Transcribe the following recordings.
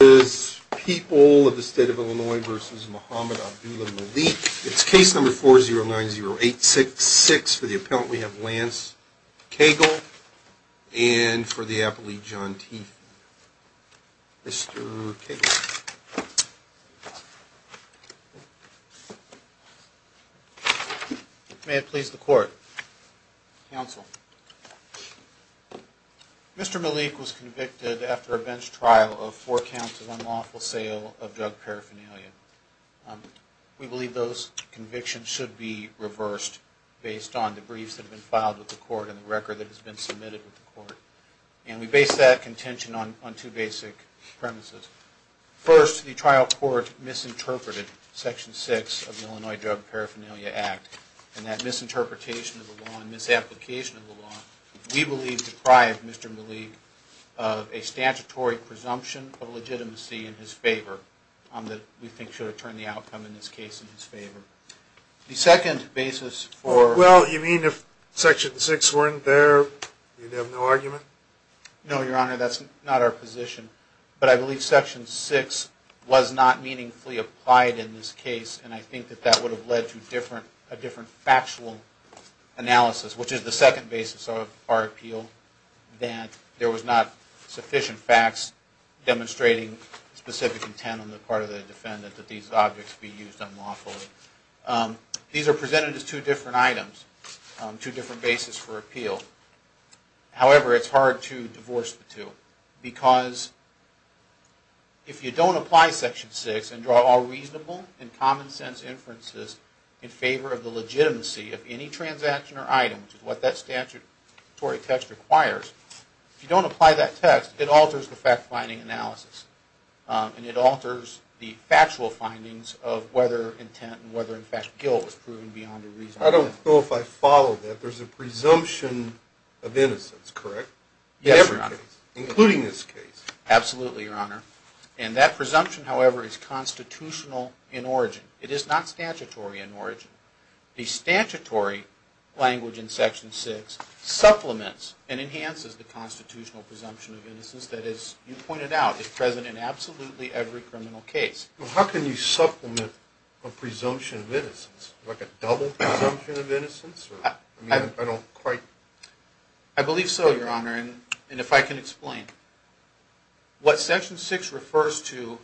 It's case number 4090866. For the appellant, we have Lance Cagle and for the appellee, John Tiefman. Mr. Cagle. May it please the court. Counsel. Mr. Malik was convicted after a bench trial of four counts of unlawful sale of drug paraphernalia. We believe those convictions should be reversed based on the briefs that have been filed with the court and the record that has been submitted with the court. And we base that contention on two basic premises. First, the trial court misinterpreted Section 6 of the Illinois Drug Paraphernalia Act. And that misinterpretation of the law and misapplication of the law, we believe, deprived Mr. Malik of a statutory presumption of legitimacy in his favor that we think should return the outcome in this case in his favor. The second basis for... Well, you mean if Section 6 weren't there, you'd have no argument? No, Your Honor, that's not our position. But I believe Section 6 was not meaningfully applied in this case, and I think that that would have led to a different factual analysis, which is the second basis of our appeal, that there was not sufficient facts demonstrating specific intent on the part of the defendant that these objects be used unlawfully. These are presented as two different items, two different bases for appeal. However, it's hard to divorce the two, because if you don't apply Section 6 and draw all reasonable and common-sense inferences in favor of the legitimacy of any transaction or item, which is what that statutory text requires, if you don't apply that text, it alters the fact-finding analysis. And it alters the factual findings of whether intent and whether, in fact, guilt was proven beyond a reasonable doubt. I don't know if I follow that. There's a presumption of innocence, correct? Yes, Your Honor. Including this case? Absolutely, Your Honor. And that presumption, however, is constitutional in origin. It is not statutory in origin. The statutory language in Section 6 supplements and enhances the constitutional presumption of innocence that, as you pointed out, is present in absolutely every criminal case. Well, how can you supplement a presumption of innocence? Like a double presumption of innocence? I mean, I don't quite... I believe so, Your Honor. And if I can explain. What Section 6 refers to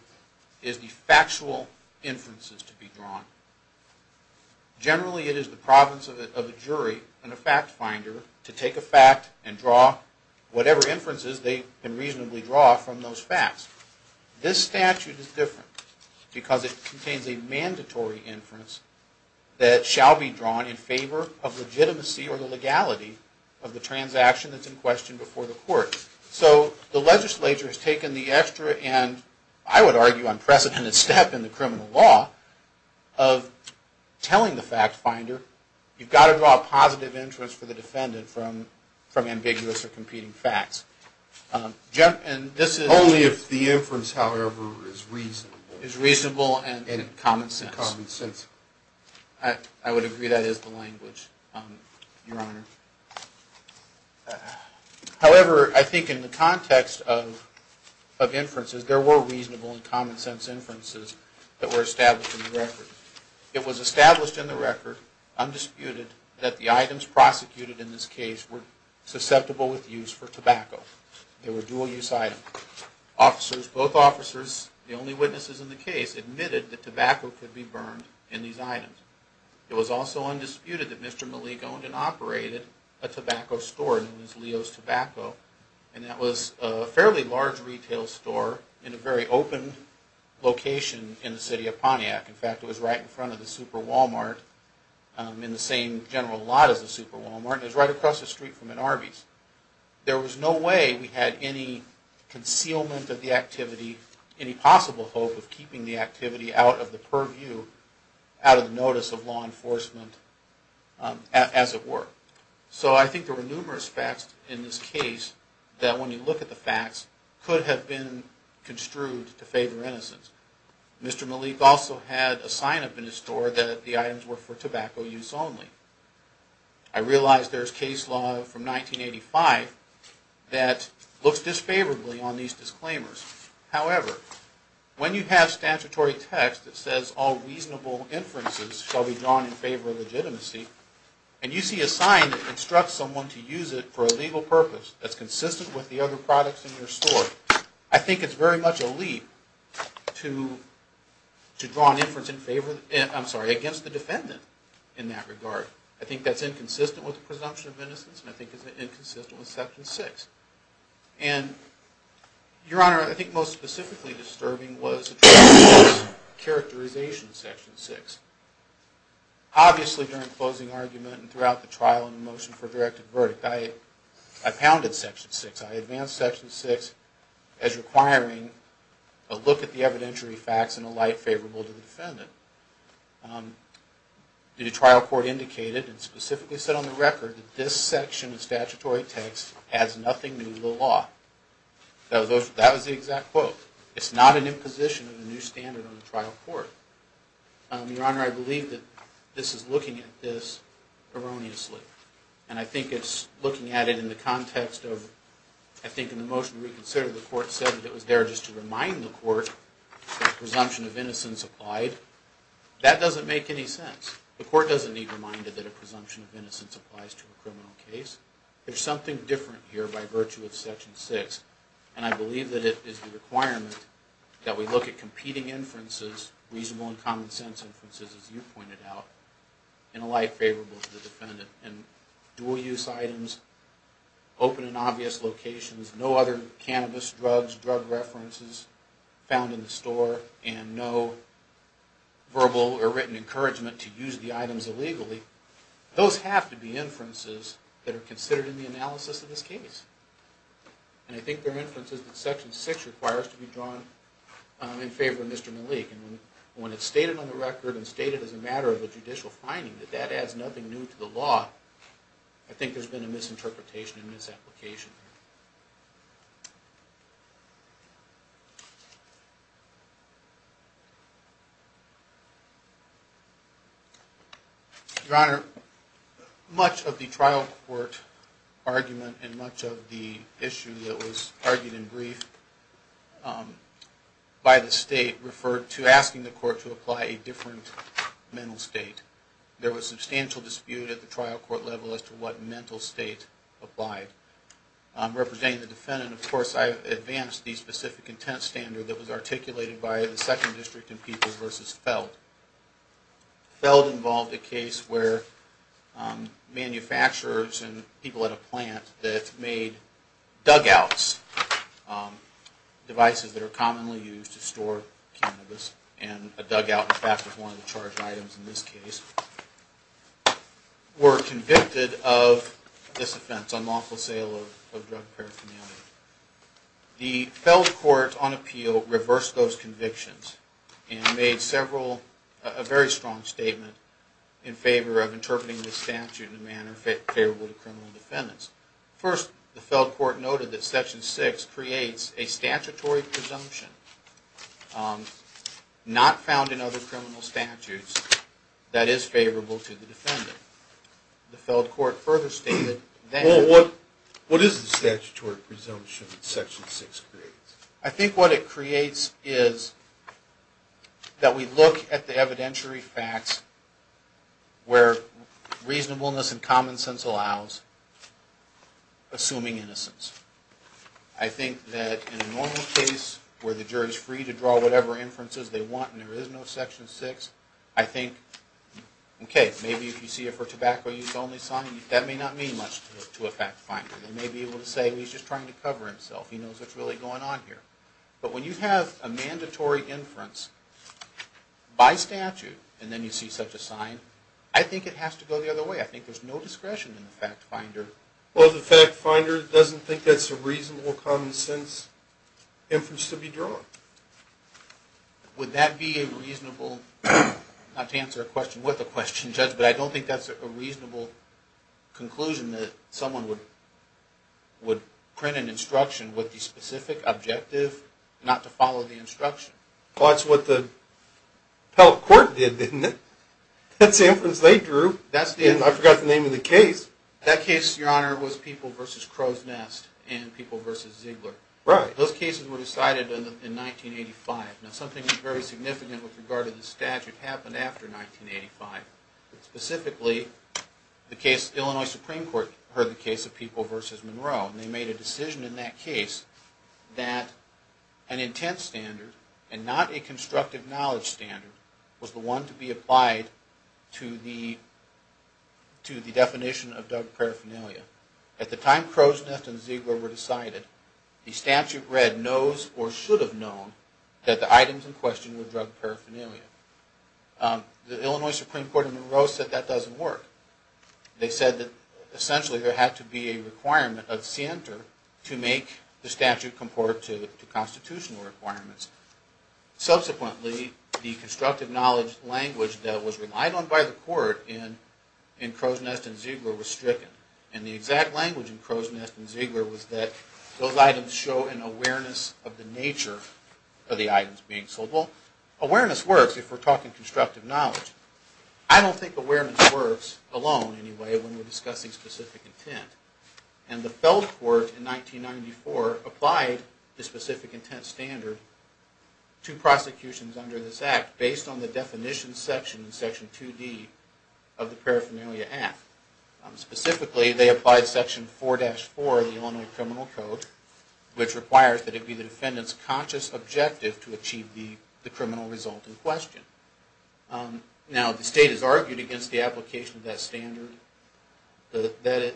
is the factual inferences to be drawn. Generally, it is the province of a jury and a fact-finder to take a fact and draw whatever inferences they can reasonably draw from those facts. This statute is different because it contains a mandatory inference that shall be drawn in favor of legitimacy or the legality of the transaction that's in question before the court. So the legislature has taken the extra and, I would argue, unprecedented step in the criminal law of telling the fact-finder, you've got to draw a positive inference for the defendant from ambiguous or competing facts. Only if the inference, however, is reasonable and common sense. I would agree that is the language, Your Honor. However, I think in the context of inferences, there were reasonable and common sense inferences that were established in the record. It was established in the record, undisputed, that the items prosecuted in this case were susceptible with use for tobacco. They were dual-use items. Both officers, the only witnesses in the case, admitted that tobacco could be burned in these items. It was also undisputed that Mr. Malik owned and operated a tobacco store known as Leo's Tobacco, and that was a fairly large retail store in a very open location in the city of Pontiac. In fact, it was right in front of the Super Walmart, in the same general lot as the Super Walmart, and it was right across the street from an Arby's. There was no way we had any concealment of the activity, any possible hope of keeping the activity out of the purview, out of the notice of law enforcement, as it were. So I think there were numerous facts in this case that, when you look at the facts, could have been construed to favor innocence. Mr. Malik also had a sign up in his store that the items were for tobacco use only. I realize there's case law from 1985 that looks disfavorably on these disclaimers. However, when you have statutory text that says all reasonable inferences shall be drawn in favor of legitimacy, and you see a sign that instructs someone to use it for a legal purpose that's consistent with the other products in your store, I think it's very much a leap to draw an inference against the defendant in that regard. I think that's inconsistent with the presumption of innocence, and I think it's inconsistent with Section 6. And, Your Honor, I think most specifically disturbing was the characterization of Section 6. Obviously, during the closing argument and throughout the trial and the motion for a directed verdict, I pounded Section 6. I advanced Section 6 as requiring a look at the evidentiary facts and a light favorable to the defendant. The trial court indicated and specifically said on the record that this section of statutory text has nothing to do with the law. That was the exact quote. It's not an imposition of a new standard on the trial court. Your Honor, I believe that this is looking at this erroneously. And I think it's looking at it in the context of, I think in the motion reconsidered, the court said that it was there just to remind the court that presumption of innocence applied. That doesn't make any sense. The court doesn't need reminder that a presumption of innocence applies to a criminal case. There's something different here by virtue of Section 6, and I believe that it is the requirement that we look at competing inferences, reasonable and common sense inferences, as you pointed out, and a light favorable to the defendant. And dual use items, open and obvious locations, no other cannabis, drugs, drug references found in the store, and no verbal or written encouragement to use the items illegally. Those have to be inferences that are considered in the analysis of this case. And I think they're inferences that Section 6 requires to be drawn in favor of Mr. Malik. And when it's stated on the record and stated as a matter of a judicial finding that that adds nothing new to the law, I think there's been a misinterpretation and misapplication. Your Honor, much of the trial court argument and much of the issue that was argued in brief by the state referred to asking the court to apply a different mental state. There was substantial dispute at the trial court level as to what mental state applied. Representing the defendant, of course, I've advanced the specific intent standard that was articulated by the Second District and People v. Feld. Feld involved a case where manufacturers and people at a plant that made dugouts, devices that are commonly used to store cannabis, and a dugout in fact was one of the charged items in this case, were convicted of this offense, unlawful sale of drug paraphernalia. The Feld court on appeal reversed those convictions and made a very strong statement in favor of interpreting this statute in a manner favorable to criminal defendants. First, the Feld court noted that Section 6 creates a statutory presumption not found in other criminal statutes that is favorable to the defendant. The Feld court further stated that... Well, what is the statutory presumption that Section 6 creates? I think what it creates is that we look at the evidentiary facts where reasonableness and common sense allows assuming innocence. I think that in a normal case where the jury is free to draw whatever inferences they want and there is no Section 6, I think, okay, maybe if you see a for tobacco use only sign, that may not mean much to a fact finder. They may be able to say, well, he's just trying to cover himself. He knows what's really going on here. But when you have a mandatory inference by statute and then you see such a sign, I think it has to go the other way. I think there's no discretion in the fact finder. Well, the fact finder doesn't think that's a reasonable common sense inference to be drawn. Would that be a reasonable, not to answer a question with a question, Judge, but I don't think that's a reasonable conclusion that someone would print an instruction with the specific objective not to follow the instruction. Well, that's what the Feld court did, didn't it? That's the inference they drew. I forgot the name of the case. That case, Your Honor, was People v. Crow's Nest and People v. Ziegler. Right. Those cases were decided in 1985. Now, something very significant with regard to the statute happened after 1985. Specifically, the Illinois Supreme Court heard the case of People v. Monroe, and they made a decision in that case that an intent standard and not a constructive knowledge standard was the one to be applied to the definition of drug paraphernalia. At the time Crow's Nest and Ziegler were decided, the statute read, knows or should have known that the items in question were drug paraphernalia. The Illinois Supreme Court in Monroe said that doesn't work. They said that essentially there had to be a requirement of scienter to make the statute comport to constitutional requirements. Subsequently, the constructive knowledge language that was relied on by the court in Crow's Nest and Ziegler was stricken, and the exact language in Crow's Nest and Ziegler was that those items show an awareness of the nature of the items being sold. Well, awareness works if we're talking constructive knowledge. I don't think awareness works alone, anyway, when we're discussing specific intent. And the felt court in 1994 applied the specific intent standard to prosecutions under this Act based on the definition section in Section 2D of the Paraphernalia Act. Specifically, they applied Section 4-4 of the Illinois Criminal Code, which requires that it be the defendant's conscious objective to achieve the criminal result in question. Now, the state has argued against the application of that standard. That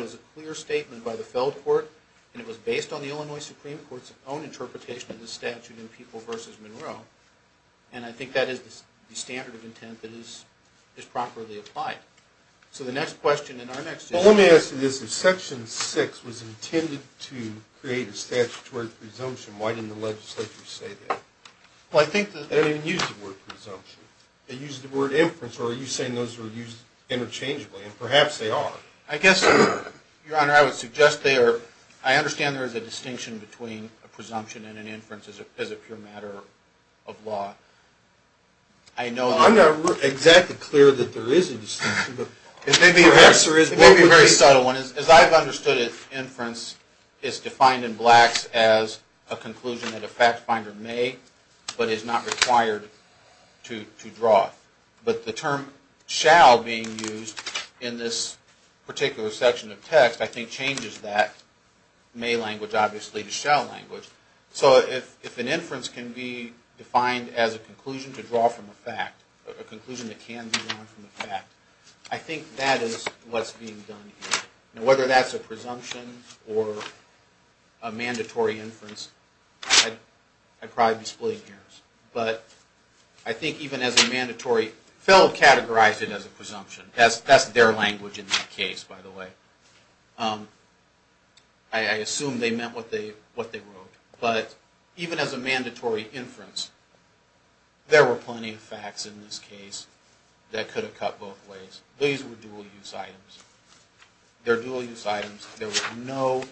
was a clear statement by the felt court, and it was based on the Illinois Supreme Court's own interpretation of the statute in People v. Monroe, and I think that is the standard of intent that is properly applied. So the next question in our next issue... Well, let me ask you this. If Section 6 was intended to create a statutory presumption, why didn't the legislature say that? Well, I think that... They didn't even use the word presumption. They used the word inference, or are you saying those were used interchangeably? And perhaps they are. I guess, Your Honor, I would suggest they are... I understand there is a distinction between a presumption and an inference as a pure matter of law. I'm not exactly clear that there is a distinction. It may be a very subtle one. As I've understood it, inference is defined in Blacks as a conclusion that a fact finder may, but is not required to draw. But the term shall being used in this particular section of text, I think changes that may language, obviously, to shall language. So if an inference can be defined as a conclusion to draw from a fact, a conclusion that can be drawn from a fact, I think that is what's being done here. Whether that's a presumption or a mandatory inference, I'd probably be split here. But I think even as a mandatory... Feld categorized it as a presumption. That's their language in that case, by the way. I assume they meant what they wrote. But even as a mandatory inference, there were plenty of facts in this case that could have cut both ways. These were dual-use items. They're dual-use items. There was no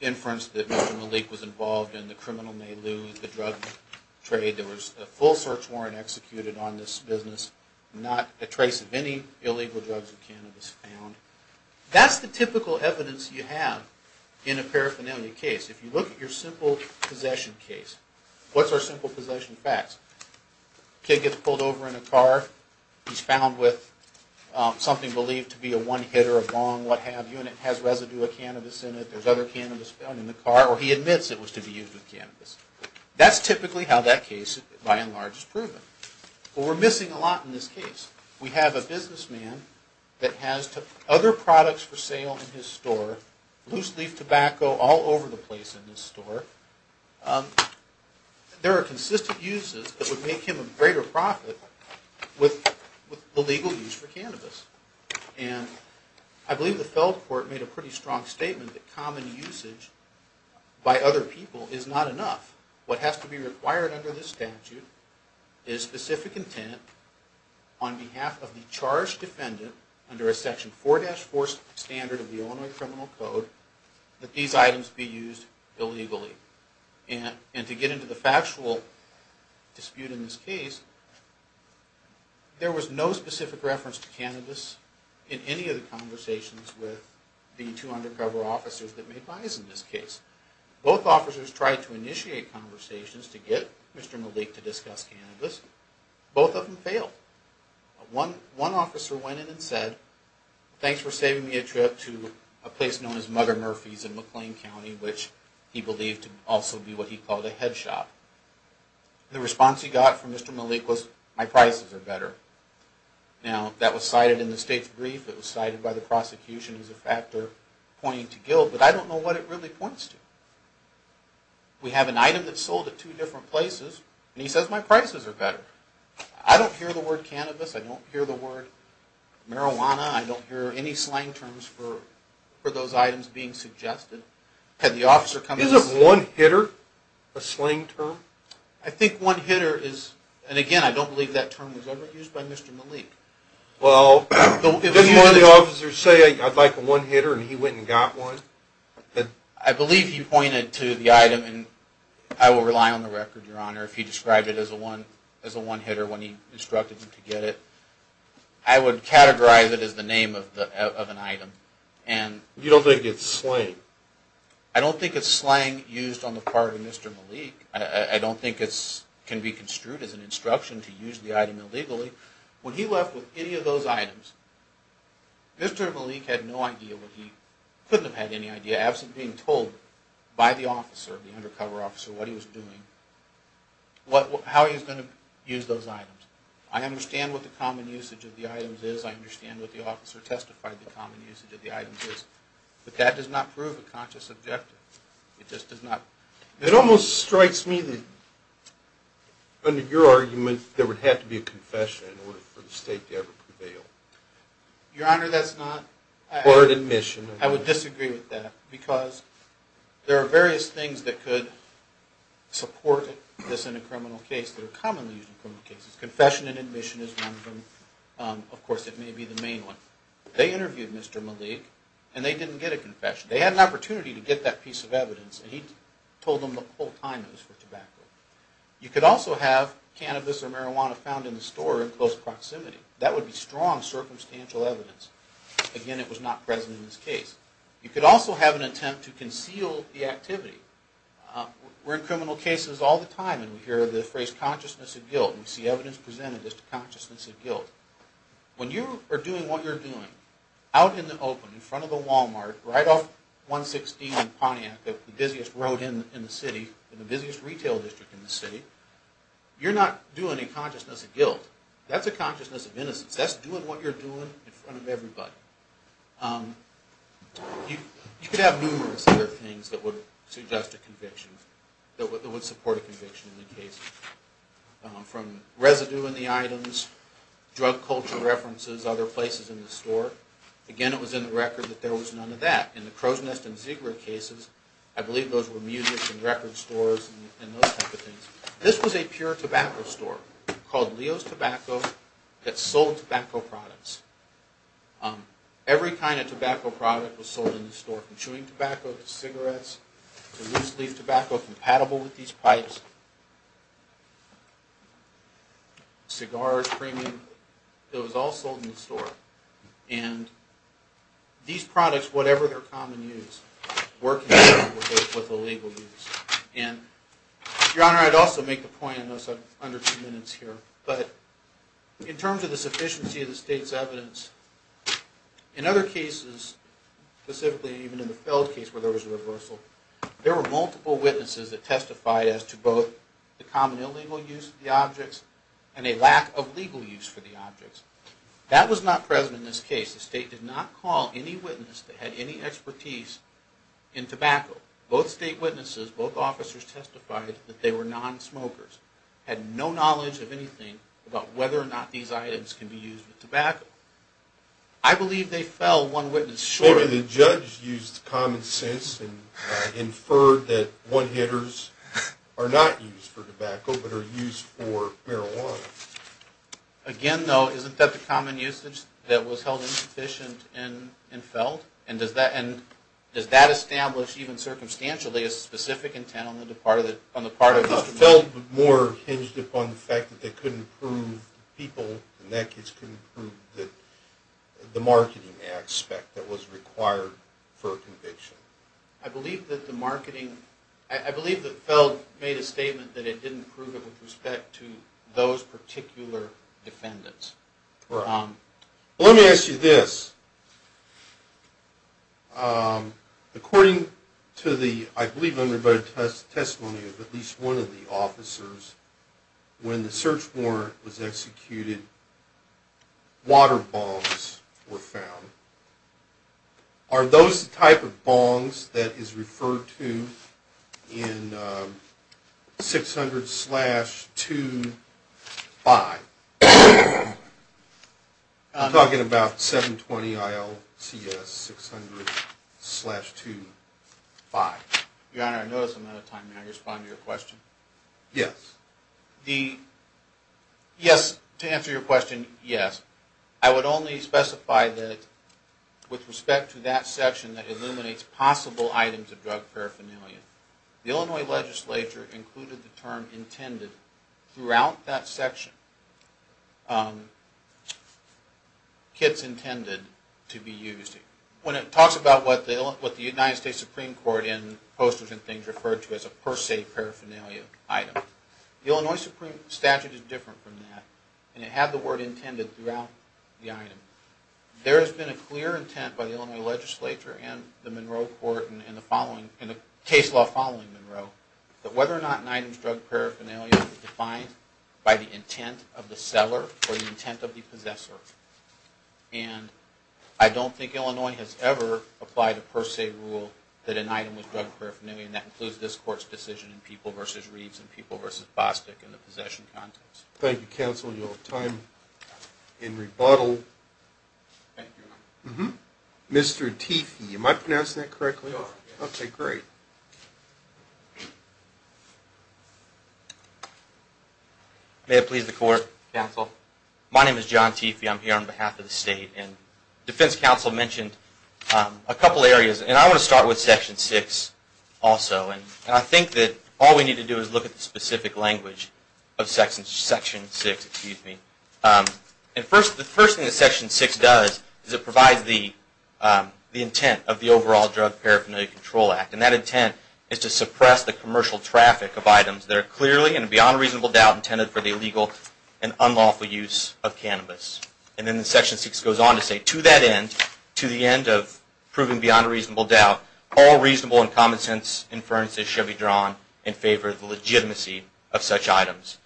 inference that Mr. Malik was involved in the criminal may-lose, the drug trade. There was a full search warrant executed on this business. Not a trace of any illegal drugs or cannabis found. That's the typical evidence you have in a paraphernalia case. If you look at your simple possession case, what's our simple possession facts? Kid gets pulled over in a car. He's found with something believed to be a one-hitter, a long what-have-you, and it has residue of cannabis in it. There's other cannabis found in the car, or he admits it was to be used with cannabis. That's typically how that case, by and large, is proven. But we're missing a lot in this case. We have a businessman that has other products for sale in his store, loose-leaf tobacco all over the place in his store. There are consistent uses that would make him a greater profit with the legal use for cannabis. And I believe the felled court made a pretty strong statement that common usage by other people is not enough. What has to be required under this statute is specific intent on behalf of the charged defendant under a Section 4-4 standard of the Illinois Criminal Code that these items be used illegally. And to get into the factual dispute in this case, there was no specific reference to cannabis in any of the conversations with the two undercover officers that made buys in this case. Both officers tried to initiate conversations to get Mr. Malik to discuss cannabis. Both of them failed. One officer went in and said, thanks for saving me a trip to a place known as Mother Murphy's in McLean County, which he believed to also be what he called a head shop. The response he got from Mr. Malik was, my prices are better. Now, that was cited in the state's brief. It was cited by the prosecution as a factor pointing to guilt, but I don't know what it really points to. We have an item that's sold at two different places, and he says my prices are better. I don't hear the word cannabis. I don't hear the word marijuana. I don't hear any slang terms for those items being suggested. Had the officer come in and say... Isn't one hitter a slang term? I think one hitter is, and again, I don't believe that term was ever used by Mr. Malik. Well, didn't one of the officers say, I'd like a one hitter, and he went and got one? I believe he pointed to the item, and I will rely on the record, Your Honor, if he described it as a one hitter when he instructed him to get it. I would categorize it as the name of an item. You don't think it's slang? I don't think it's slang used on the part of Mr. Malik. I don't think it can be construed as an instruction to use the item illegally. When he left with any of those items, Mr. Malik had no idea what he... couldn't have had any idea, absent being told by the officer, the undercover officer, what he was doing, how he was going to use those items. I understand what the common usage of the items is. I understand what the officer testified the common usage of the items is. But that does not prove a conscious objective. It just does not... It almost strikes me that, under your argument, there would have to be a confession in order for the state to ever prevail. Your Honor, that's not... Or an admission. I would disagree with that, because there are various things that could support this in a criminal case that are commonly used in criminal cases. Confession and admission is one of them. Of course, it may be the main one. They interviewed Mr. Malik, and they didn't get a confession. They had an opportunity to get that piece of evidence, and he told them the whole time it was for tobacco. You could also have cannabis or marijuana found in the store in close proximity. That would be strong circumstantial evidence. Again, it was not present in this case. You could also have an attempt to conceal the activity. We're in criminal cases all the time, and we hear the phrase, consciousness of guilt. We see evidence presented as to consciousness of guilt. When you are doing what you're doing, out in the open, in front of the Walmart, right off 116 in Pontiac, the busiest road in the city, the busiest retail district in the city, you're not doing a consciousness of guilt. That's a consciousness of innocence. That's doing what you're doing in front of everybody. You could have numerous other things that would suggest a conviction, that would support a conviction in the case, from residue in the items, drug culture references, other places in the store. Again, it was in the record that there was none of that. In the Crow's Nest and Ziegler cases, I believe those were music and record stores and those type of things. This was a pure tobacco store called Leo's Tobacco that sold tobacco products. Every kind of tobacco product was sold in the store, from chewing tobacco to cigarettes to loose leaf tobacco compatible with these pipes, cigars, creaming. It was all sold in the store. And these products, whatever their common use, were compatible with the legal use. And, Your Honor, I'd also make the point, I know I'm under two minutes here, but in terms of the sufficiency of the state's evidence, in other cases, specifically even in the Feld case where there was a reversal, there were multiple witnesses that testified as to both the common illegal use of the objects and a lack of legal use for the objects. That was not present in this case. The state did not call any witness that had any expertise in tobacco. Both state witnesses, both officers testified that they were non-smokers, had no knowledge of anything about whether or not these items can be used with tobacco. I believe they fell one witness short. Maybe the judge used common sense and inferred that one-hitters are not used for tobacco but are used for marijuana. Again, though, isn't that the common usage that was held insufficient in Feld? And does that establish, even circumstantially, a specific intent on the part of Mr. Feld? I thought Feld more hinged upon the fact that they couldn't prove the people, for a conviction. I believe that Feld made a statement that it didn't prove it with respect to those particular defendants. Let me ask you this. According to the, I believe, undervoted testimony of at least one of the officers, when the search warrant was executed, water bongs were found. Are those the type of bongs that is referred to in 600-2-5? I'm talking about 720-IL-TS, 600-2-5. Your Honor, I notice I'm out of time. May I respond to your question? Yes. Yes, to answer your question, yes. I would only specify that with respect to that section that illuminates possible items of drug paraphernalia, the Illinois legislature included the term intended throughout that section, kits intended to be used. When it talks about what the United States Supreme Court in Posters and Things referred to as a per se paraphernalia item, the Illinois Supreme Statute is different from that. It had the word intended throughout the item. There has been a clear intent by the Illinois legislature and the Monroe Court in the case law following Monroe that whether or not an item is drug paraphernalia is defined by the intent of the seller or the intent of the possessor. And I don't think Illinois has ever applied a per se rule that an item was drug paraphernalia and that includes this Court's decision in People v. Reeves and People v. Bostic in the possession context. Thank you, counsel. You'll have time in rebuttal. Thank you, Your Honor. Mr. Teefee, am I pronouncing that correctly? You are, yes. Okay, great. May it please the Court, counsel. My name is John Teefee. I'm here on behalf of the State. And defense counsel mentioned a couple areas. And I want to start with Section 6 also. And I think that all we need to do is look at the specific language of Section 6. And the first thing that Section 6 does is it provides the intent of the overall Drug Paraphernalia Control Act. And that intent is to suppress the commercial traffic of items that are clearly and beyond a reasonable doubt intended for the illegal and unlawful use of cannabis. And then Section 6 goes on to say, to that end, to the end of proving beyond a reasonable doubt, all reasonable and common sense inferences should be drawn in favor of the legitimacy of such items.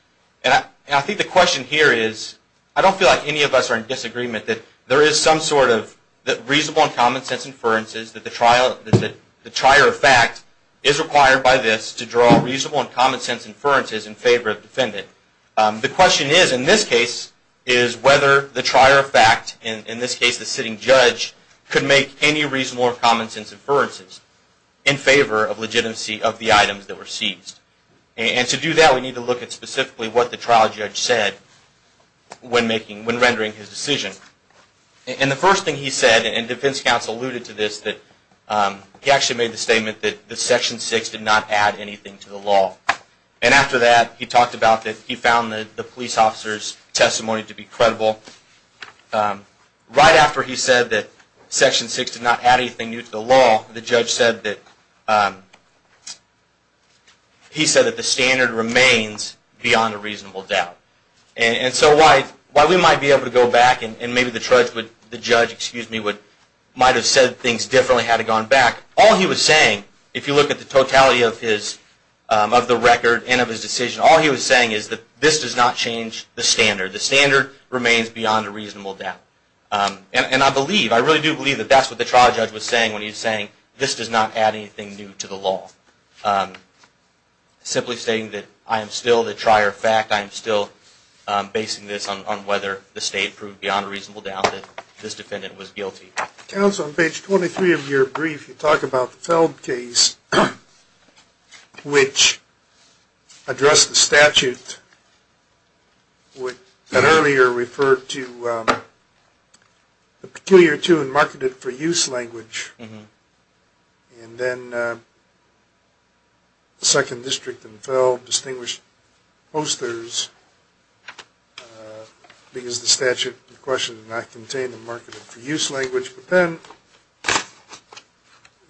And I think the question here is, I don't feel like any of us are in disagreement that there is some sort of, that reasonable and common sense inferences, that the trier of fact is required by this to draw reasonable and common sense inferences in favor of the defendant. The question is, in this case, is whether the trier of fact, in this case the sitting judge, could make any reasonable or common sense inferences in favor of legitimacy of the items that were seized. And to do that, we need to look at specifically what the trial judge said when rendering his decision. And the first thing he said, and defense counsel alluded to this, he actually made the statement that Section 6 did not add anything to the law. And after that, he talked about that he found the police officer's testimony to be credible. Right after he said that Section 6 did not add anything new to the law, the judge said that the standard remains beyond a reasonable doubt. And so while we might be able to go back and maybe the judge might have said things differently, had he gone back, all he was saying, if you look at the totality of the record and of his decision, all he was saying is that this does not change the standard. The standard remains beyond a reasonable doubt. And I believe, I really do believe that that's what the trial judge was saying when he was saying, this does not add anything new to the law. Simply saying that I am still the trier of fact, I am still basing this on whether the state proved beyond a reasonable doubt that this defendant was guilty. Counsel, on page 23 of your brief, you talk about the Feld case, which addressed the statute that earlier referred to the peculiar to and marketed for use language. And then the 2nd District and Feld distinguished posters because the statute in question did not contain the marketed for use language. But then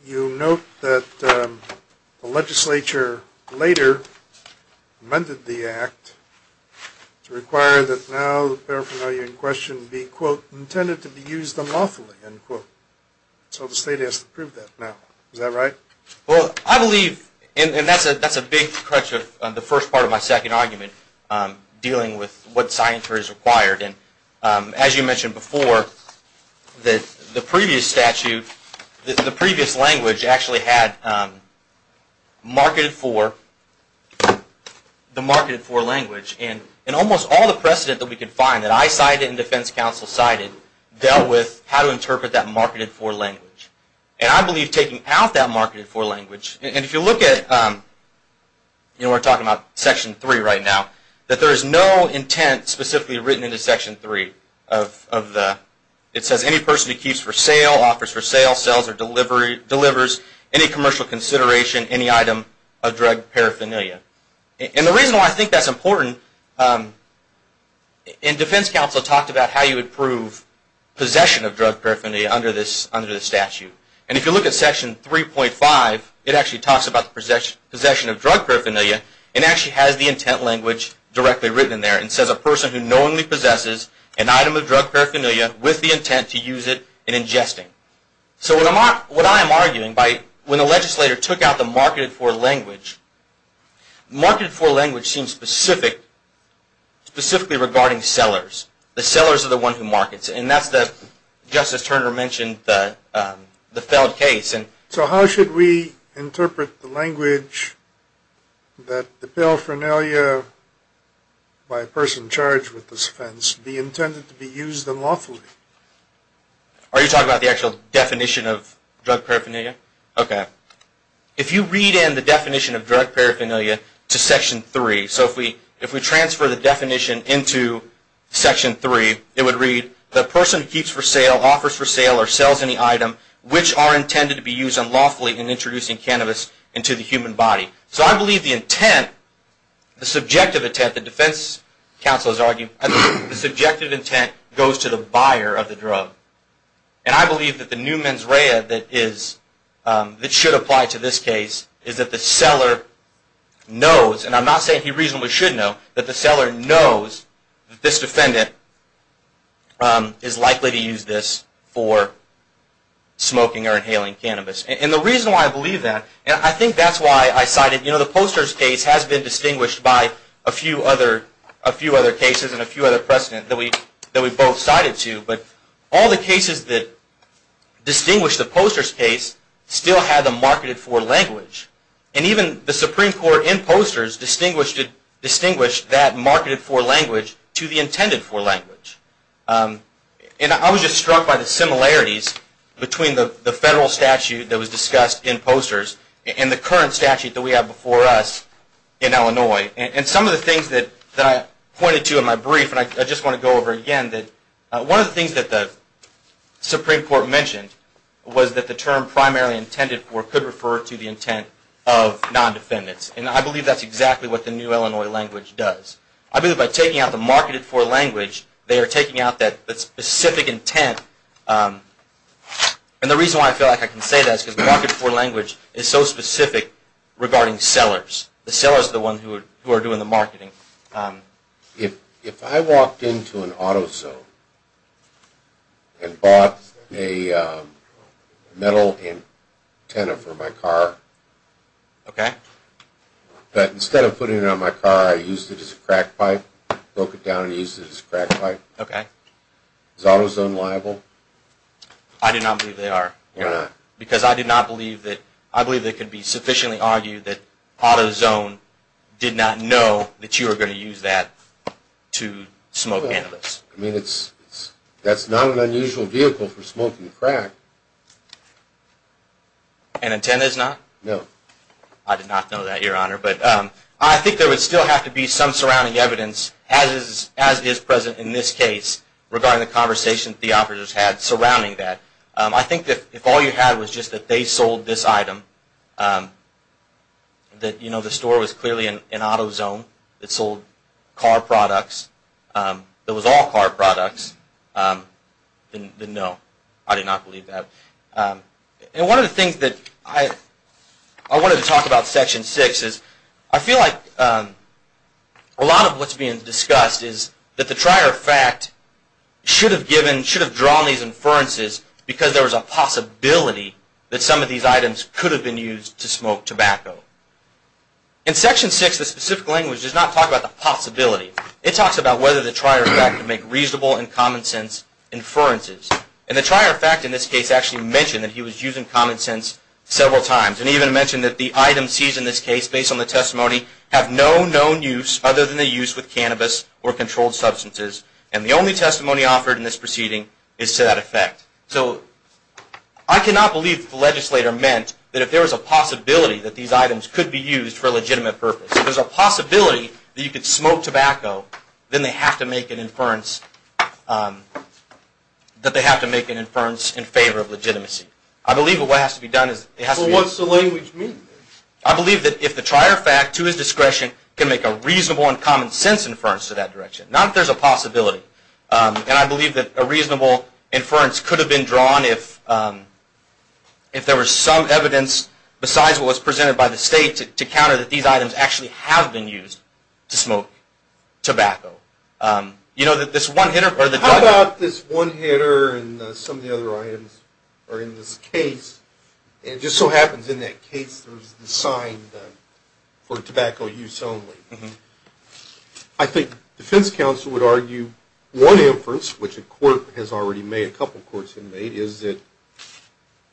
you note that the legislature later amended the act to require that now the paraphernalia in question be, quote, intended to be used unlawfully, end quote. So the state has to prove that now. Is that right? Well, I believe, and that's a big crutch of the first part of my second argument, dealing with what science is required. And as you mentioned before, the previous statute, the previous language actually had marketed for, the marketed for language. And almost all the precedent that we could find, that I cited and defense counsel cited, dealt with how to interpret that marketed for language. And I believe taking out that marketed for language, and if you look at, you know, we're talking about Section 3 right now, that there is no intent specifically written into Section 3 of the, it says any person who keeps for sale, offers for sale, sells or delivers any commercial consideration, any item of drug paraphernalia. And the reason why I think that's important, and defense counsel talked about how you would prove possession of drug paraphernalia under this statute. And if you look at Section 3.5, it actually talks about possession of drug paraphernalia, and actually has the intent language directly written in there. It says a person who knowingly possesses an item of drug paraphernalia with the intent to use it in ingesting. So what I am arguing by, when the legislator took out the marketed for language, marketed for language seems specific, specifically regarding sellers. The sellers are the one who markets. And that's the, just as Turner mentioned, the failed case. So how should we interpret the language that the paraphernalia by a person charged with this offense, be intended to be used unlawfully? Are you talking about the actual definition of drug paraphernalia? Okay. If you read in the definition of drug paraphernalia to Section 3. So if we transfer the definition into Section 3. It would read, the person keeps for sale, offers for sale, or sells any item, which are intended to be used unlawfully in introducing cannabis into the human body. So I believe the intent, the subjective intent, the defense counsel is arguing, the subjective intent goes to the buyer of the drug. And I believe that the new mens rea that is, that should apply to this case, is that the seller knows, and I'm not saying he reasonably should know, that the seller knows that this defendant is likely to use this for smoking or inhaling cannabis. And the reason why I believe that, and I think that's why I cited, you know, the Posters case has been distinguished by a few other cases and a few other precedents that we both cited to. But all the cases that distinguish the Posters case still have the marketed for language. And even the Supreme Court in Posters distinguished that marketed for language to the intended for language. And I was just struck by the similarities between the federal statute that was discussed in Posters and the current statute that we have before us in Illinois. And some of the things that I pointed to in my brief, and I just want to go over again, that one of the things that the Supreme Court mentioned was that the term primarily intended for could refer to the intent of non-defendants. And I believe that's exactly what the new Illinois language does. I believe by taking out the marketed for language, they are taking out that specific intent. And the reason why I feel like I can say that is because marketed for language is so specific regarding sellers. The sellers are the ones who are doing the marketing. If I walked into an auto zone and bought a metal antenna for my car, but instead of putting it on my car I used it as a crack pipe, broke it down and used it as a crack pipe, is auto zone liable? I do not believe they are. Why not? Because I do not believe that, I believe it could be sufficiently argued that auto zone did not know that you were going to use that to smoke cannabis. I mean, that's not an unusual vehicle for smoking crack. An antenna is not? No. I did not know that, Your Honor. I think there would still have to be some surrounding evidence, as is present in this case, regarding the conversation that the officers had surrounding that. I think that if all you had was just that they sold this item, that the store was clearly an auto zone that sold car products, that was all car products, then no. I did not believe that. One of the things that I wanted to talk about in Section 6 is I feel like a lot of what's being discussed is that the trier of fact should have drawn these inferences because there was a possibility that some of these items could have been used to smoke tobacco. In Section 6, the specific language does not talk about the possibility. It talks about whether the trier of fact can make reasonable and common sense inferences. And the trier of fact in this case actually mentioned that he was using common sense several times. And he even mentioned that the items seized in this case, based on the testimony, have no known use other than the use with cannabis or controlled substances. And the only testimony offered in this proceeding is to that effect. So I cannot believe the legislator meant that if there was a possibility that these items could be used for a legitimate purpose, if there's a possibility that you could smoke tobacco, then they have to make an inference in favor of legitimacy. I believe that what has to be done is... But what's the language mean? I believe that if the trier of fact, to his discretion, can make a reasonable and common sense inference to that direction. Not if there's a possibility. And I believe that a reasonable inference could have been drawn if there was some evidence besides what was presented by the State to counter that these items actually have been used to smoke tobacco. You know that this one hitter... How about this one hitter and some of the other items are in this case, and it just so happens in that case there was a sign for tobacco use only. I think defense counsel would argue one inference, which a court has already made, a couple of courts have made, is that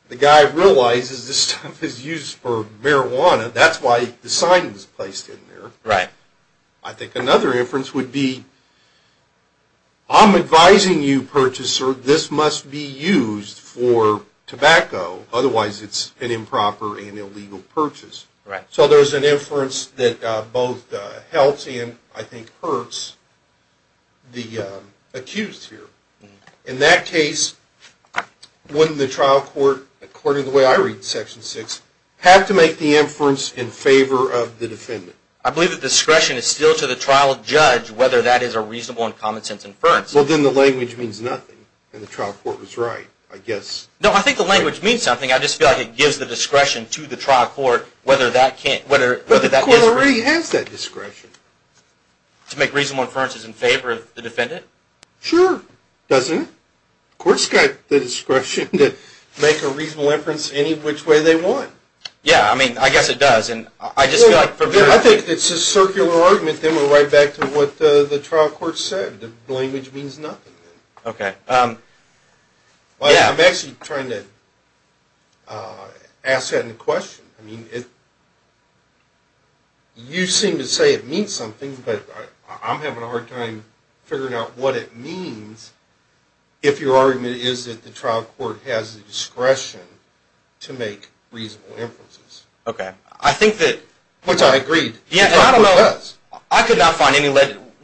the guy realizes this stuff is used for marijuana. That's why the sign was placed in there. I think another inference would be, I'm advising you, purchaser, this must be used for tobacco, otherwise it's an improper and illegal purchase. So there's an inference that both helps and, I think, hurts the accused here. In that case, wouldn't the trial court, according to the way I read Section 6, have to make the inference in favor of the defendant? I believe that discretion is still to the trial judge whether that is a reasonable and common sense inference. Well, then the language means nothing, and the trial court was right, I guess. No, I think the language means something. I just feel like it gives the discretion to the trial court whether that can't... But the court already has that discretion. To make reasonable inferences in favor of the defendant? Sure, doesn't it? Courts got the discretion to make a reasonable inference any which way they want. Yeah, I mean, I guess it does, and I just feel like... I think it's a circular argument, then we're right back to what the trial court said. The language means nothing. Okay. I'm actually trying to ask that in question. You seem to say it means something, but I'm having a hard time figuring out what it means if your argument is that the trial court has the discretion to make reasonable inferences. Okay. I think that... Which I agreed. Yeah, and I don't know... The trial court does. I could not find any...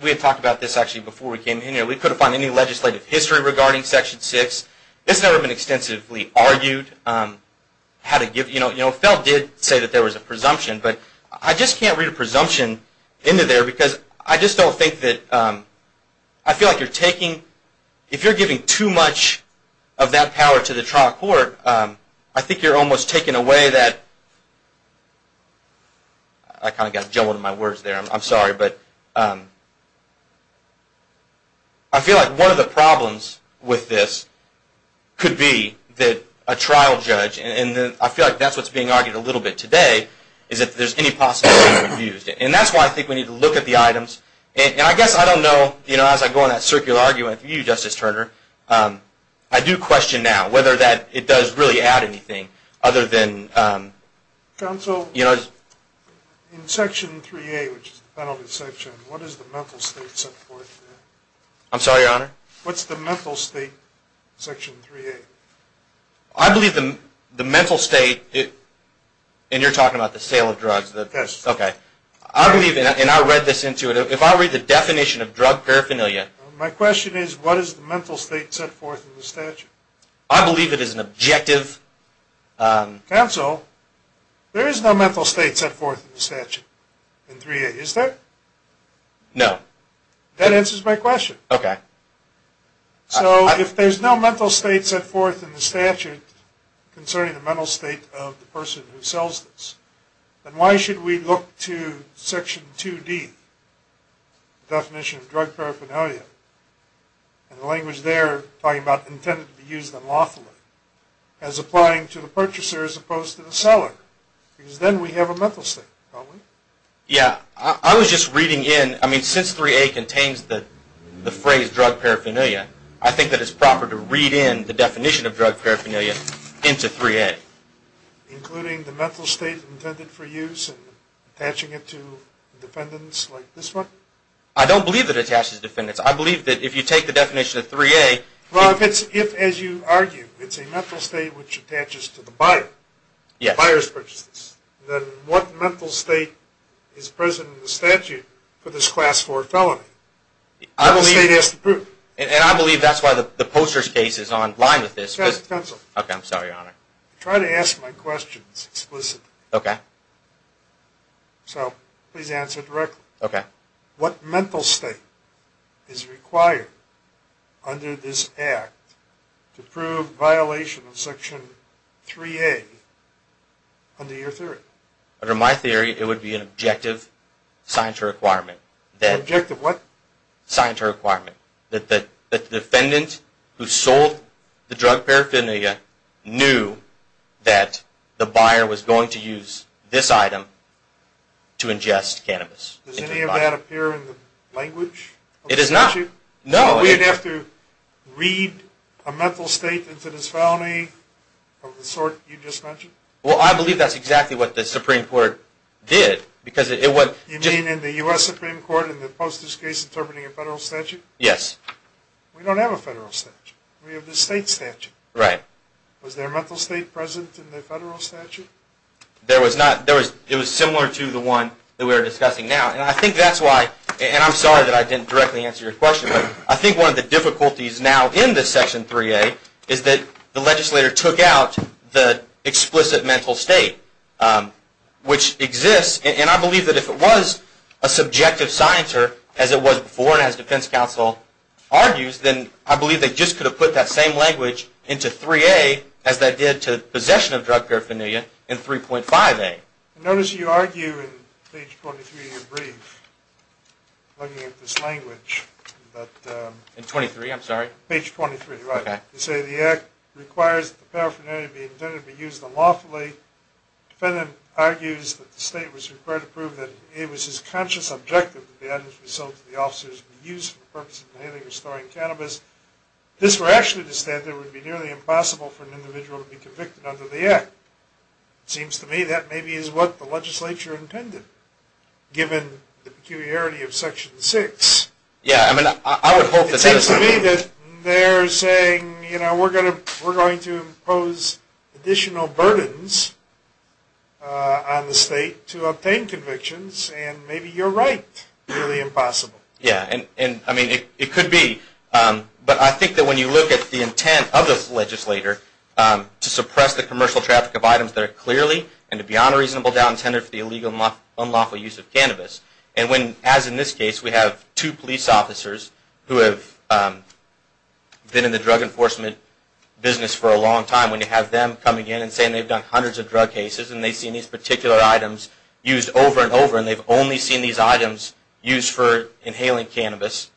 We had talked about this, actually, before we came here. We couldn't find any legislative history regarding Section 6. This has never been extensively argued. How to give... You know, Feld did say that there was a presumption, but I just can't read a presumption into there because I just don't think that... I feel like you're taking... If you're giving too much of that power to the trial court, I think you're almost taking away that... I kind of got jumbled in my words there. I'm sorry, but... I feel like one of the problems with this could be that a trial judge... And I feel like that's what's being argued a little bit today, is that there's any possibility of being abused. And that's why I think we need to look at the items. And I guess I don't know... You know, as I go on that circular argument with you, Justice Turner, I do question now whether that... It does really add anything other than... Counsel, in Section 3A, which is the penalty section, what is the mental state set forth there? I'm sorry, Your Honor? What's the mental state in Section 3A? I believe the mental state... And you're talking about the sale of drugs, the... Okay. I believe, and I read this into it, if I read the definition of drug paraphernalia... My question is, what is the mental state set forth in the statute? I believe it is an objective... Counsel, there is no mental state set forth in the statute in 3A, is there? No. That answers my question. Okay. So if there's no mental state set forth in the statute concerning the mental state of the person who sells this, then why should we look to Section 2D, the definition of drug paraphernalia, and the language there talking about intended to be used unlawfully, as applying to the purchaser as opposed to the seller? Because then we have a mental state, don't we? Yeah. I was just reading in... I mean, since 3A contains the phrase drug paraphernalia, I think that it's proper to read in the definition of drug paraphernalia into 3A. Including the mental state intended for use and attaching it to defendants like this one? I don't believe it attaches defendants. I believe that if you take the definition of 3A... Well, if, as you argue, it's a mental state which attaches to the buyer, the buyer's purchases, then what mental state is present in the statute for this Class 4 felony? I believe... The mental state has to prove. And I believe that's why the Posters case is on line with this. That's a pencil. Okay, I'm sorry, Your Honor. I try to ask my questions explicitly. Okay. So, please answer directly. Okay. What mental state is required under this Act to prove violation of Section 3A under your theory? Under my theory, it would be an objective signatory requirement. Objective what? Signatory requirement. That the defendant who sold the drug paraphernalia knew that the buyer was going to use this item to ingest cannabis. Does any of that appear in the language of the statute? It does not. No. We'd have to read a mental state into this felony of the sort you just mentioned? Well, I believe that's exactly what the Supreme Court did because it was... You mean in the U.S. Supreme Court in the Posters case interpreting a federal statute? Yes. We don't have a federal statute. We have the state statute. Right. Was there a mental state present in the federal statute? There was not. It was similar to the one that we were discussing now. And I think that's why... And I'm sorry that I didn't directly answer your question, but I think one of the difficulties now in this Section 3A is that the legislator took out the explicit mental state, which exists. And I believe that if it was a subjective scienter as it was before and as defense counsel argues, then I believe they just could have put that same language into 3A as they did to possession of drug paraphernalia in 3.5A. Notice you argue in page 23 of your brief looking at this language that... In 23, I'm sorry? Page 23, right. You say the act requires that paraphernalia be intended to be used unlawfully. The defendant argues that the state was required to prove that it was his conscious objective that the items were sold to the officers to be used for the purpose of dealing with or storing cannabis. It is rational to say that it would be nearly impossible for an individual to be convicted under the act. It seems to me that maybe is what the legislature intended, given the peculiarity of Section 6. Yeah, I mean, I would hope that... It seems to me that they're saying, you know, we're going to impose additional burdens on the state to obtain convictions and maybe you're right, nearly impossible. Yeah, and I mean, it could be. But I think that when you look at the intent of this legislator to suppress the commercial traffic of items that are clearly and beyond a reasonable doubt intended for the illegal and unlawful use of cannabis and when, as in this case, we have two police officers who have been in the drug enforcement business for a long time, when you have them coming in and saying they've done hundreds of drug cases and they've seen these particular items used over and over and they've only seen these items used for inhaling cannabis,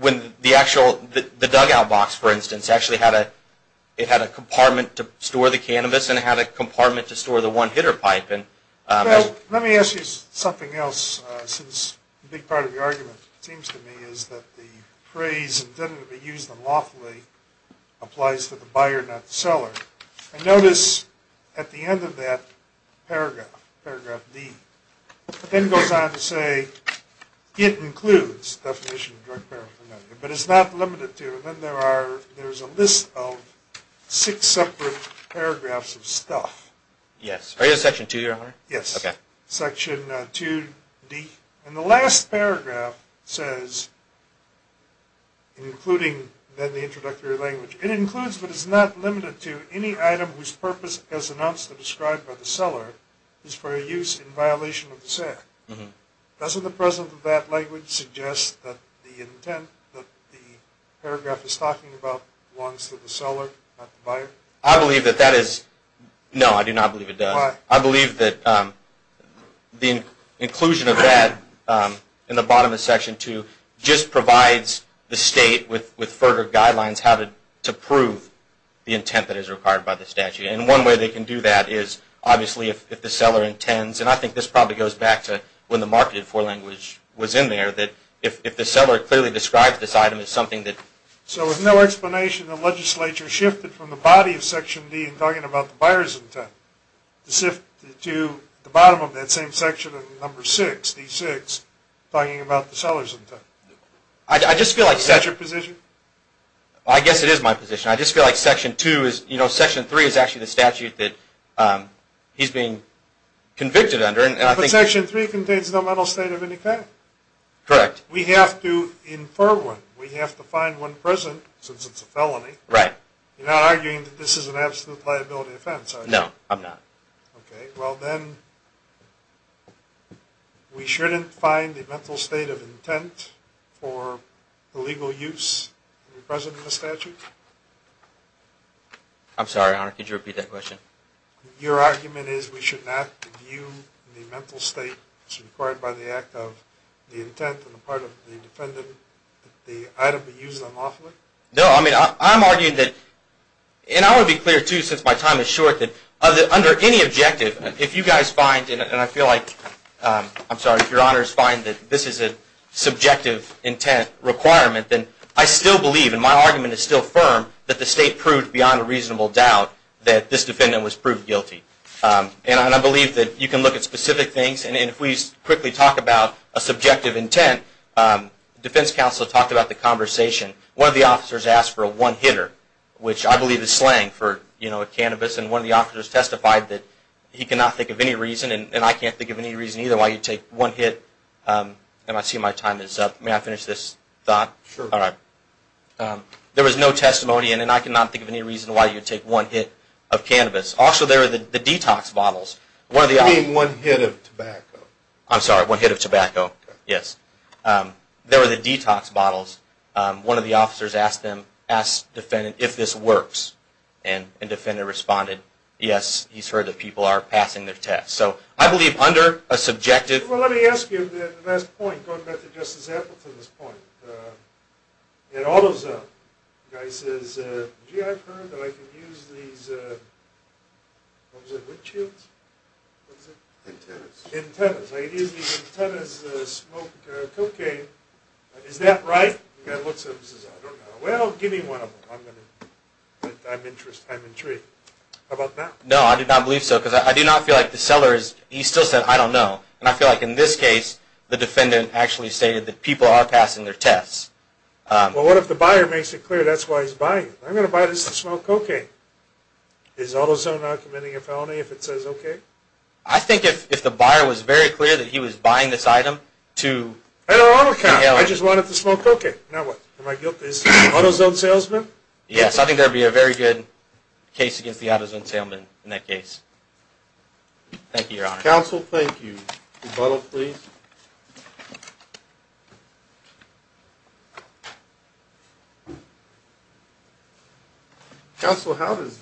when the actual, the dugout box, for instance, actually had a, it had a compartment to store the cannabis and it had a compartment to store the one hitter pipe. Well, let me ask you something else, since a big part of your argument seems to me is that the phrase intended to be used unlawfully applies to the buyer, not the seller. And notice at the end of that paragraph, paragraph D, it then goes on to say it includes the definition of drug paraphernalia, but it's not limited to, and then there are, there's a list of six separate paragraphs of stuff. Yes. Are you on section two here, Hunter? Yes. Okay. Section 2D. And the last paragraph says, including then the introductory language, it includes, but is not limited to, any item whose purpose as announced or described by the seller is for a use in violation of the SEC. Doesn't the presence of that language suggest that the intent, that the paragraph is talking about belongs to the seller, not the buyer? I believe that that is, no, I do not believe it does. Why? I believe that the inclusion of that in the bottom of section 2 just provides the state with further guidelines how to prove the intent that is required by the statute. And one way they can do that is, obviously, if the seller intends, and I think this probably goes back to when the marketed forelanguage was in there, that if the seller clearly describes this item as something that So with no explanation, the legislature shifted from the body of section D talking about the buyer's intent to the bottom of that same section of number 6, D6, talking about the seller's intent. Is that your position? I guess it is my position. I just feel like section 2 is, you know, section 3 is actually the statute that he's being convicted under. But section 3 contains no mental state of any kind. Correct. We have to infer one. We have to find one present, since it's a felony. Right. You're not arguing that this is an absolute liability offense, are you? No, I'm not. Okay. Well, then, we shouldn't find the mental state of intent for the legal use present in the statute? I'm sorry, Your Honor. Could you repeat that question? Your argument is we should not view the mental state as required by the act of the intent on the part of the defendant that the item be used unlawfully? No. I mean, I'm arguing that, and I want to be clear, too, since my time is short, that under any objective, if you guys find, and I feel like, I'm sorry, if Your Honors find that this is a subjective intent requirement, then I still believe, and my argument is still firm, that the state proved beyond a reasonable doubt that this defendant was proved guilty. And I believe that you can look at specific things, and if we quickly talk about a subjective intent, defense counsel talked about the conversation. One of the officers asked for a one-hitter, which I believe is slang for, you know, a cannabis. And one of the officers testified that he cannot think of any reason, and I can't think of any reason either why you'd take one hit. And I see my time is up. May I finish this thought? Sure. All right. There was no testimony, and I cannot think of any reason why you'd take one hit of cannabis. Also, there are the detox bottles. You mean one hit of tobacco? I'm sorry, one hit of tobacco, yes. There were the detox bottles. One of the officers asked the defendant if this works, and the defendant responded, yes, he's heard that people are passing their tests. So I believe under a subjective – Well, let me ask you the last point, going back to Justice Appleton's point. It all goes up. The guy says, gee, I've heard that I can use these, what was it, wood chips? Antennas. Antennas. He says, ladies, these antennas smoke cocaine. Is that right? The guy looks at him and says, I don't know. Well, give me one of them. I'm interested. I'm intrigued. How about now? No, I did not believe so, because I do not feel like the seller is – he still said, I don't know. And I feel like in this case, the defendant actually stated that people are passing their tests. Well, what if the buyer makes it clear that's why he's buying it? I'm going to buy this to smoke cocaine. Is AutoZone not committing a felony if it says okay? I think if the buyer was very clear that he was buying this item to inhale it. I just wanted to smoke cocaine. Now what? Am I guilty as an AutoZone salesman? Yes. I think that would be a very good case against the AutoZone salesman in that case. Thank you, Your Honor. Counsel, thank you. Rebuttal, please. Thank you. Counsel, how does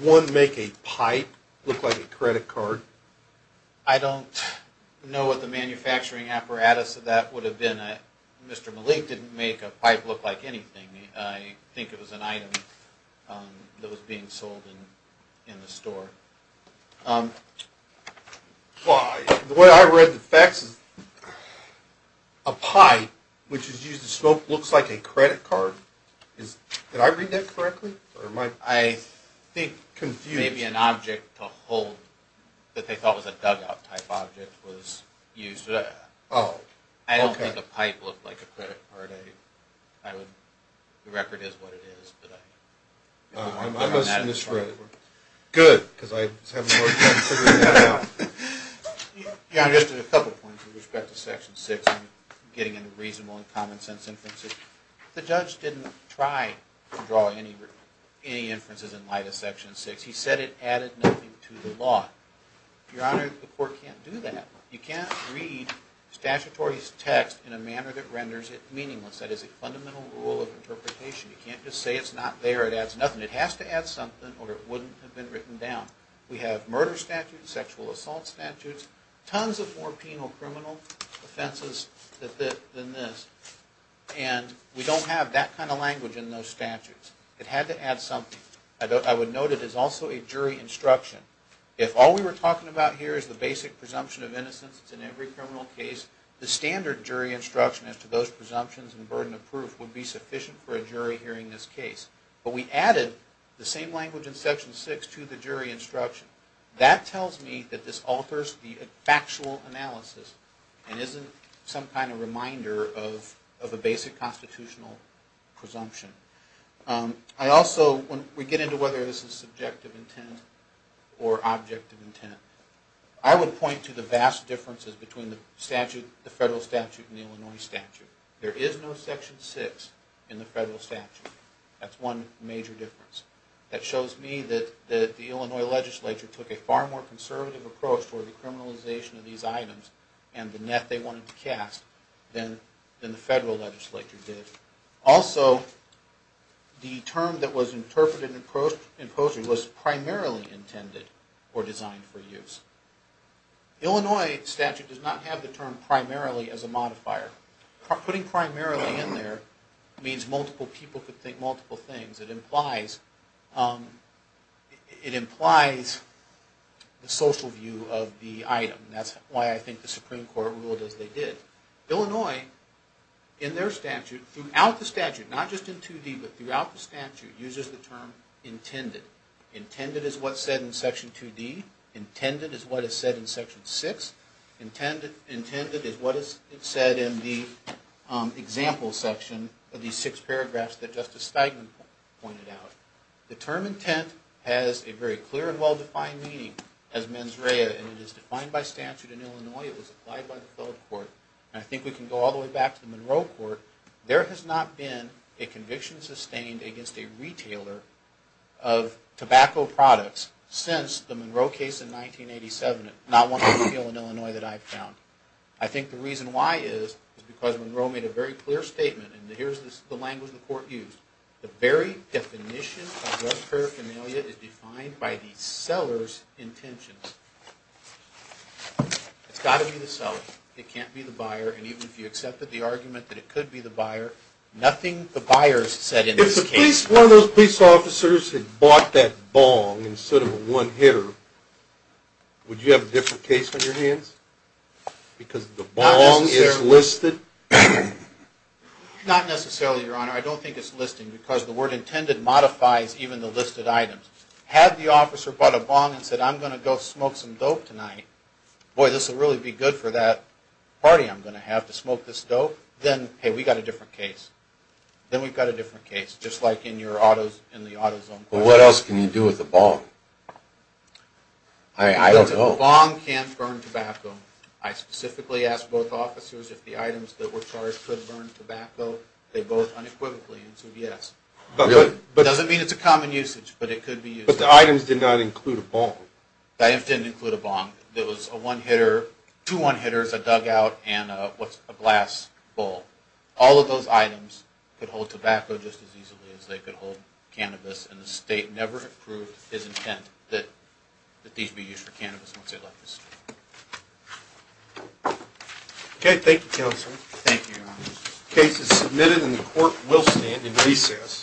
one make a pipe look like a credit card? I don't know what the manufacturing apparatus of that would have been. Mr. Malik didn't make a pipe look like anything. I think it was an item that was being sold in the store. The way I read the facts is a pipe, which is used to smoke, looks like a credit card. Did I read that correctly? I think confused. Maybe an object to hold that they thought was a dugout type object was used for that. Oh, okay. I don't think a pipe looked like a credit card. The record is what it is. I must have misread it. Good, because I was having a hard time figuring that out. Your Honor, just a couple of points with respect to Section 6. I'm getting into reasonable and common sense inferences. The judge didn't try to draw any inferences in light of Section 6. He said it added nothing to the law. Your Honor, the court can't do that. You can't read statutory text in a manner that renders it meaningless. That is a fundamental rule of interpretation. You can't just say it's not there, it adds nothing. It has to add something or it wouldn't have been written down. We have murder statutes, sexual assault statutes, tons of more penal criminal offenses than this. We don't have that kind of language in those statutes. It had to add something. I would note it is also a jury instruction. If all we were talking about here is the basic presumption of innocence in every criminal case, the standard jury instruction as to those presumptions and burden of proof would be sufficient for a jury hearing this case. But we added the same language in Section 6 to the jury instruction. That tells me that this alters the factual analysis and isn't some kind of reminder of a basic constitutional presumption. When we get into whether this is subjective intent or objective intent, I would point to the vast differences between the federal statute and the Illinois statute. There is no Section 6 in the federal statute. That's one major difference. That shows me that the Illinois legislature took a far more conservative approach toward the criminalization of these items and the net they wanted to cast than the federal legislature did. Also, the term that was interpreted in the proceedings was primarily intended or designed for use. The Illinois statute does not have the term primarily as a modifier. Putting primarily in there means multiple people could think multiple things. It implies the social view of the item. That's why I think the Supreme Court ruled as they did. Illinois, in their statute, throughout the statute, not just in 2D, but throughout the statute, uses the term intended. Intended is what's said in Section 2D. Intended is what is said in Section 6. Intended is what is said in the example section of these six paragraphs that Justice Steigman pointed out. The term intent has a very clear and well-defined meaning as mens rea. It is defined by statute in Illinois. It was applied by the federal court. I think we can go all the way back to the Monroe Court. There has not been a conviction sustained against a retailer of tobacco products since the Monroe case in 1987. Not one I feel in Illinois that I've found. I think the reason why is because Monroe made a very clear statement, and here's the language the court used. The very definition of drug paraphernalia is defined by the seller's intentions. It's got to be the seller. It can't be the buyer. And even if you accepted the argument that it could be the buyer, nothing the buyers said in this case. If one of those police officers had bought that bong instead of a one hitter, would you have a different case on your hands? Because the bong is listed? Not necessarily, Your Honor. I don't think it's listed because the word intended modifies even the listed items. Had the officer bought a bong and said, I'm going to go smoke some dope tonight, boy, this will really be good for that party I'm going to have to smoke this dope, then, hey, we've got a different case. Then we've got a different case, just like in the auto zone. Well, what else can you do with a bong? I don't know. A bong can't burn tobacco. I specifically asked both officers if the items that were charged could burn tobacco. They both unequivocally said yes. It doesn't mean it's a common usage, but it could be used. But the items did not include a bong. The items didn't include a bong. There was a one hitter, two one hitters, a dugout, and a glass bowl. All of those items could hold tobacco just as easily as they could hold cannabis, and the state never approved his intent that these be used for cannabis once they left the state. Okay, thank you, counsel. Thank you, Your Honor. The case is submitted, and the court will stand in recess.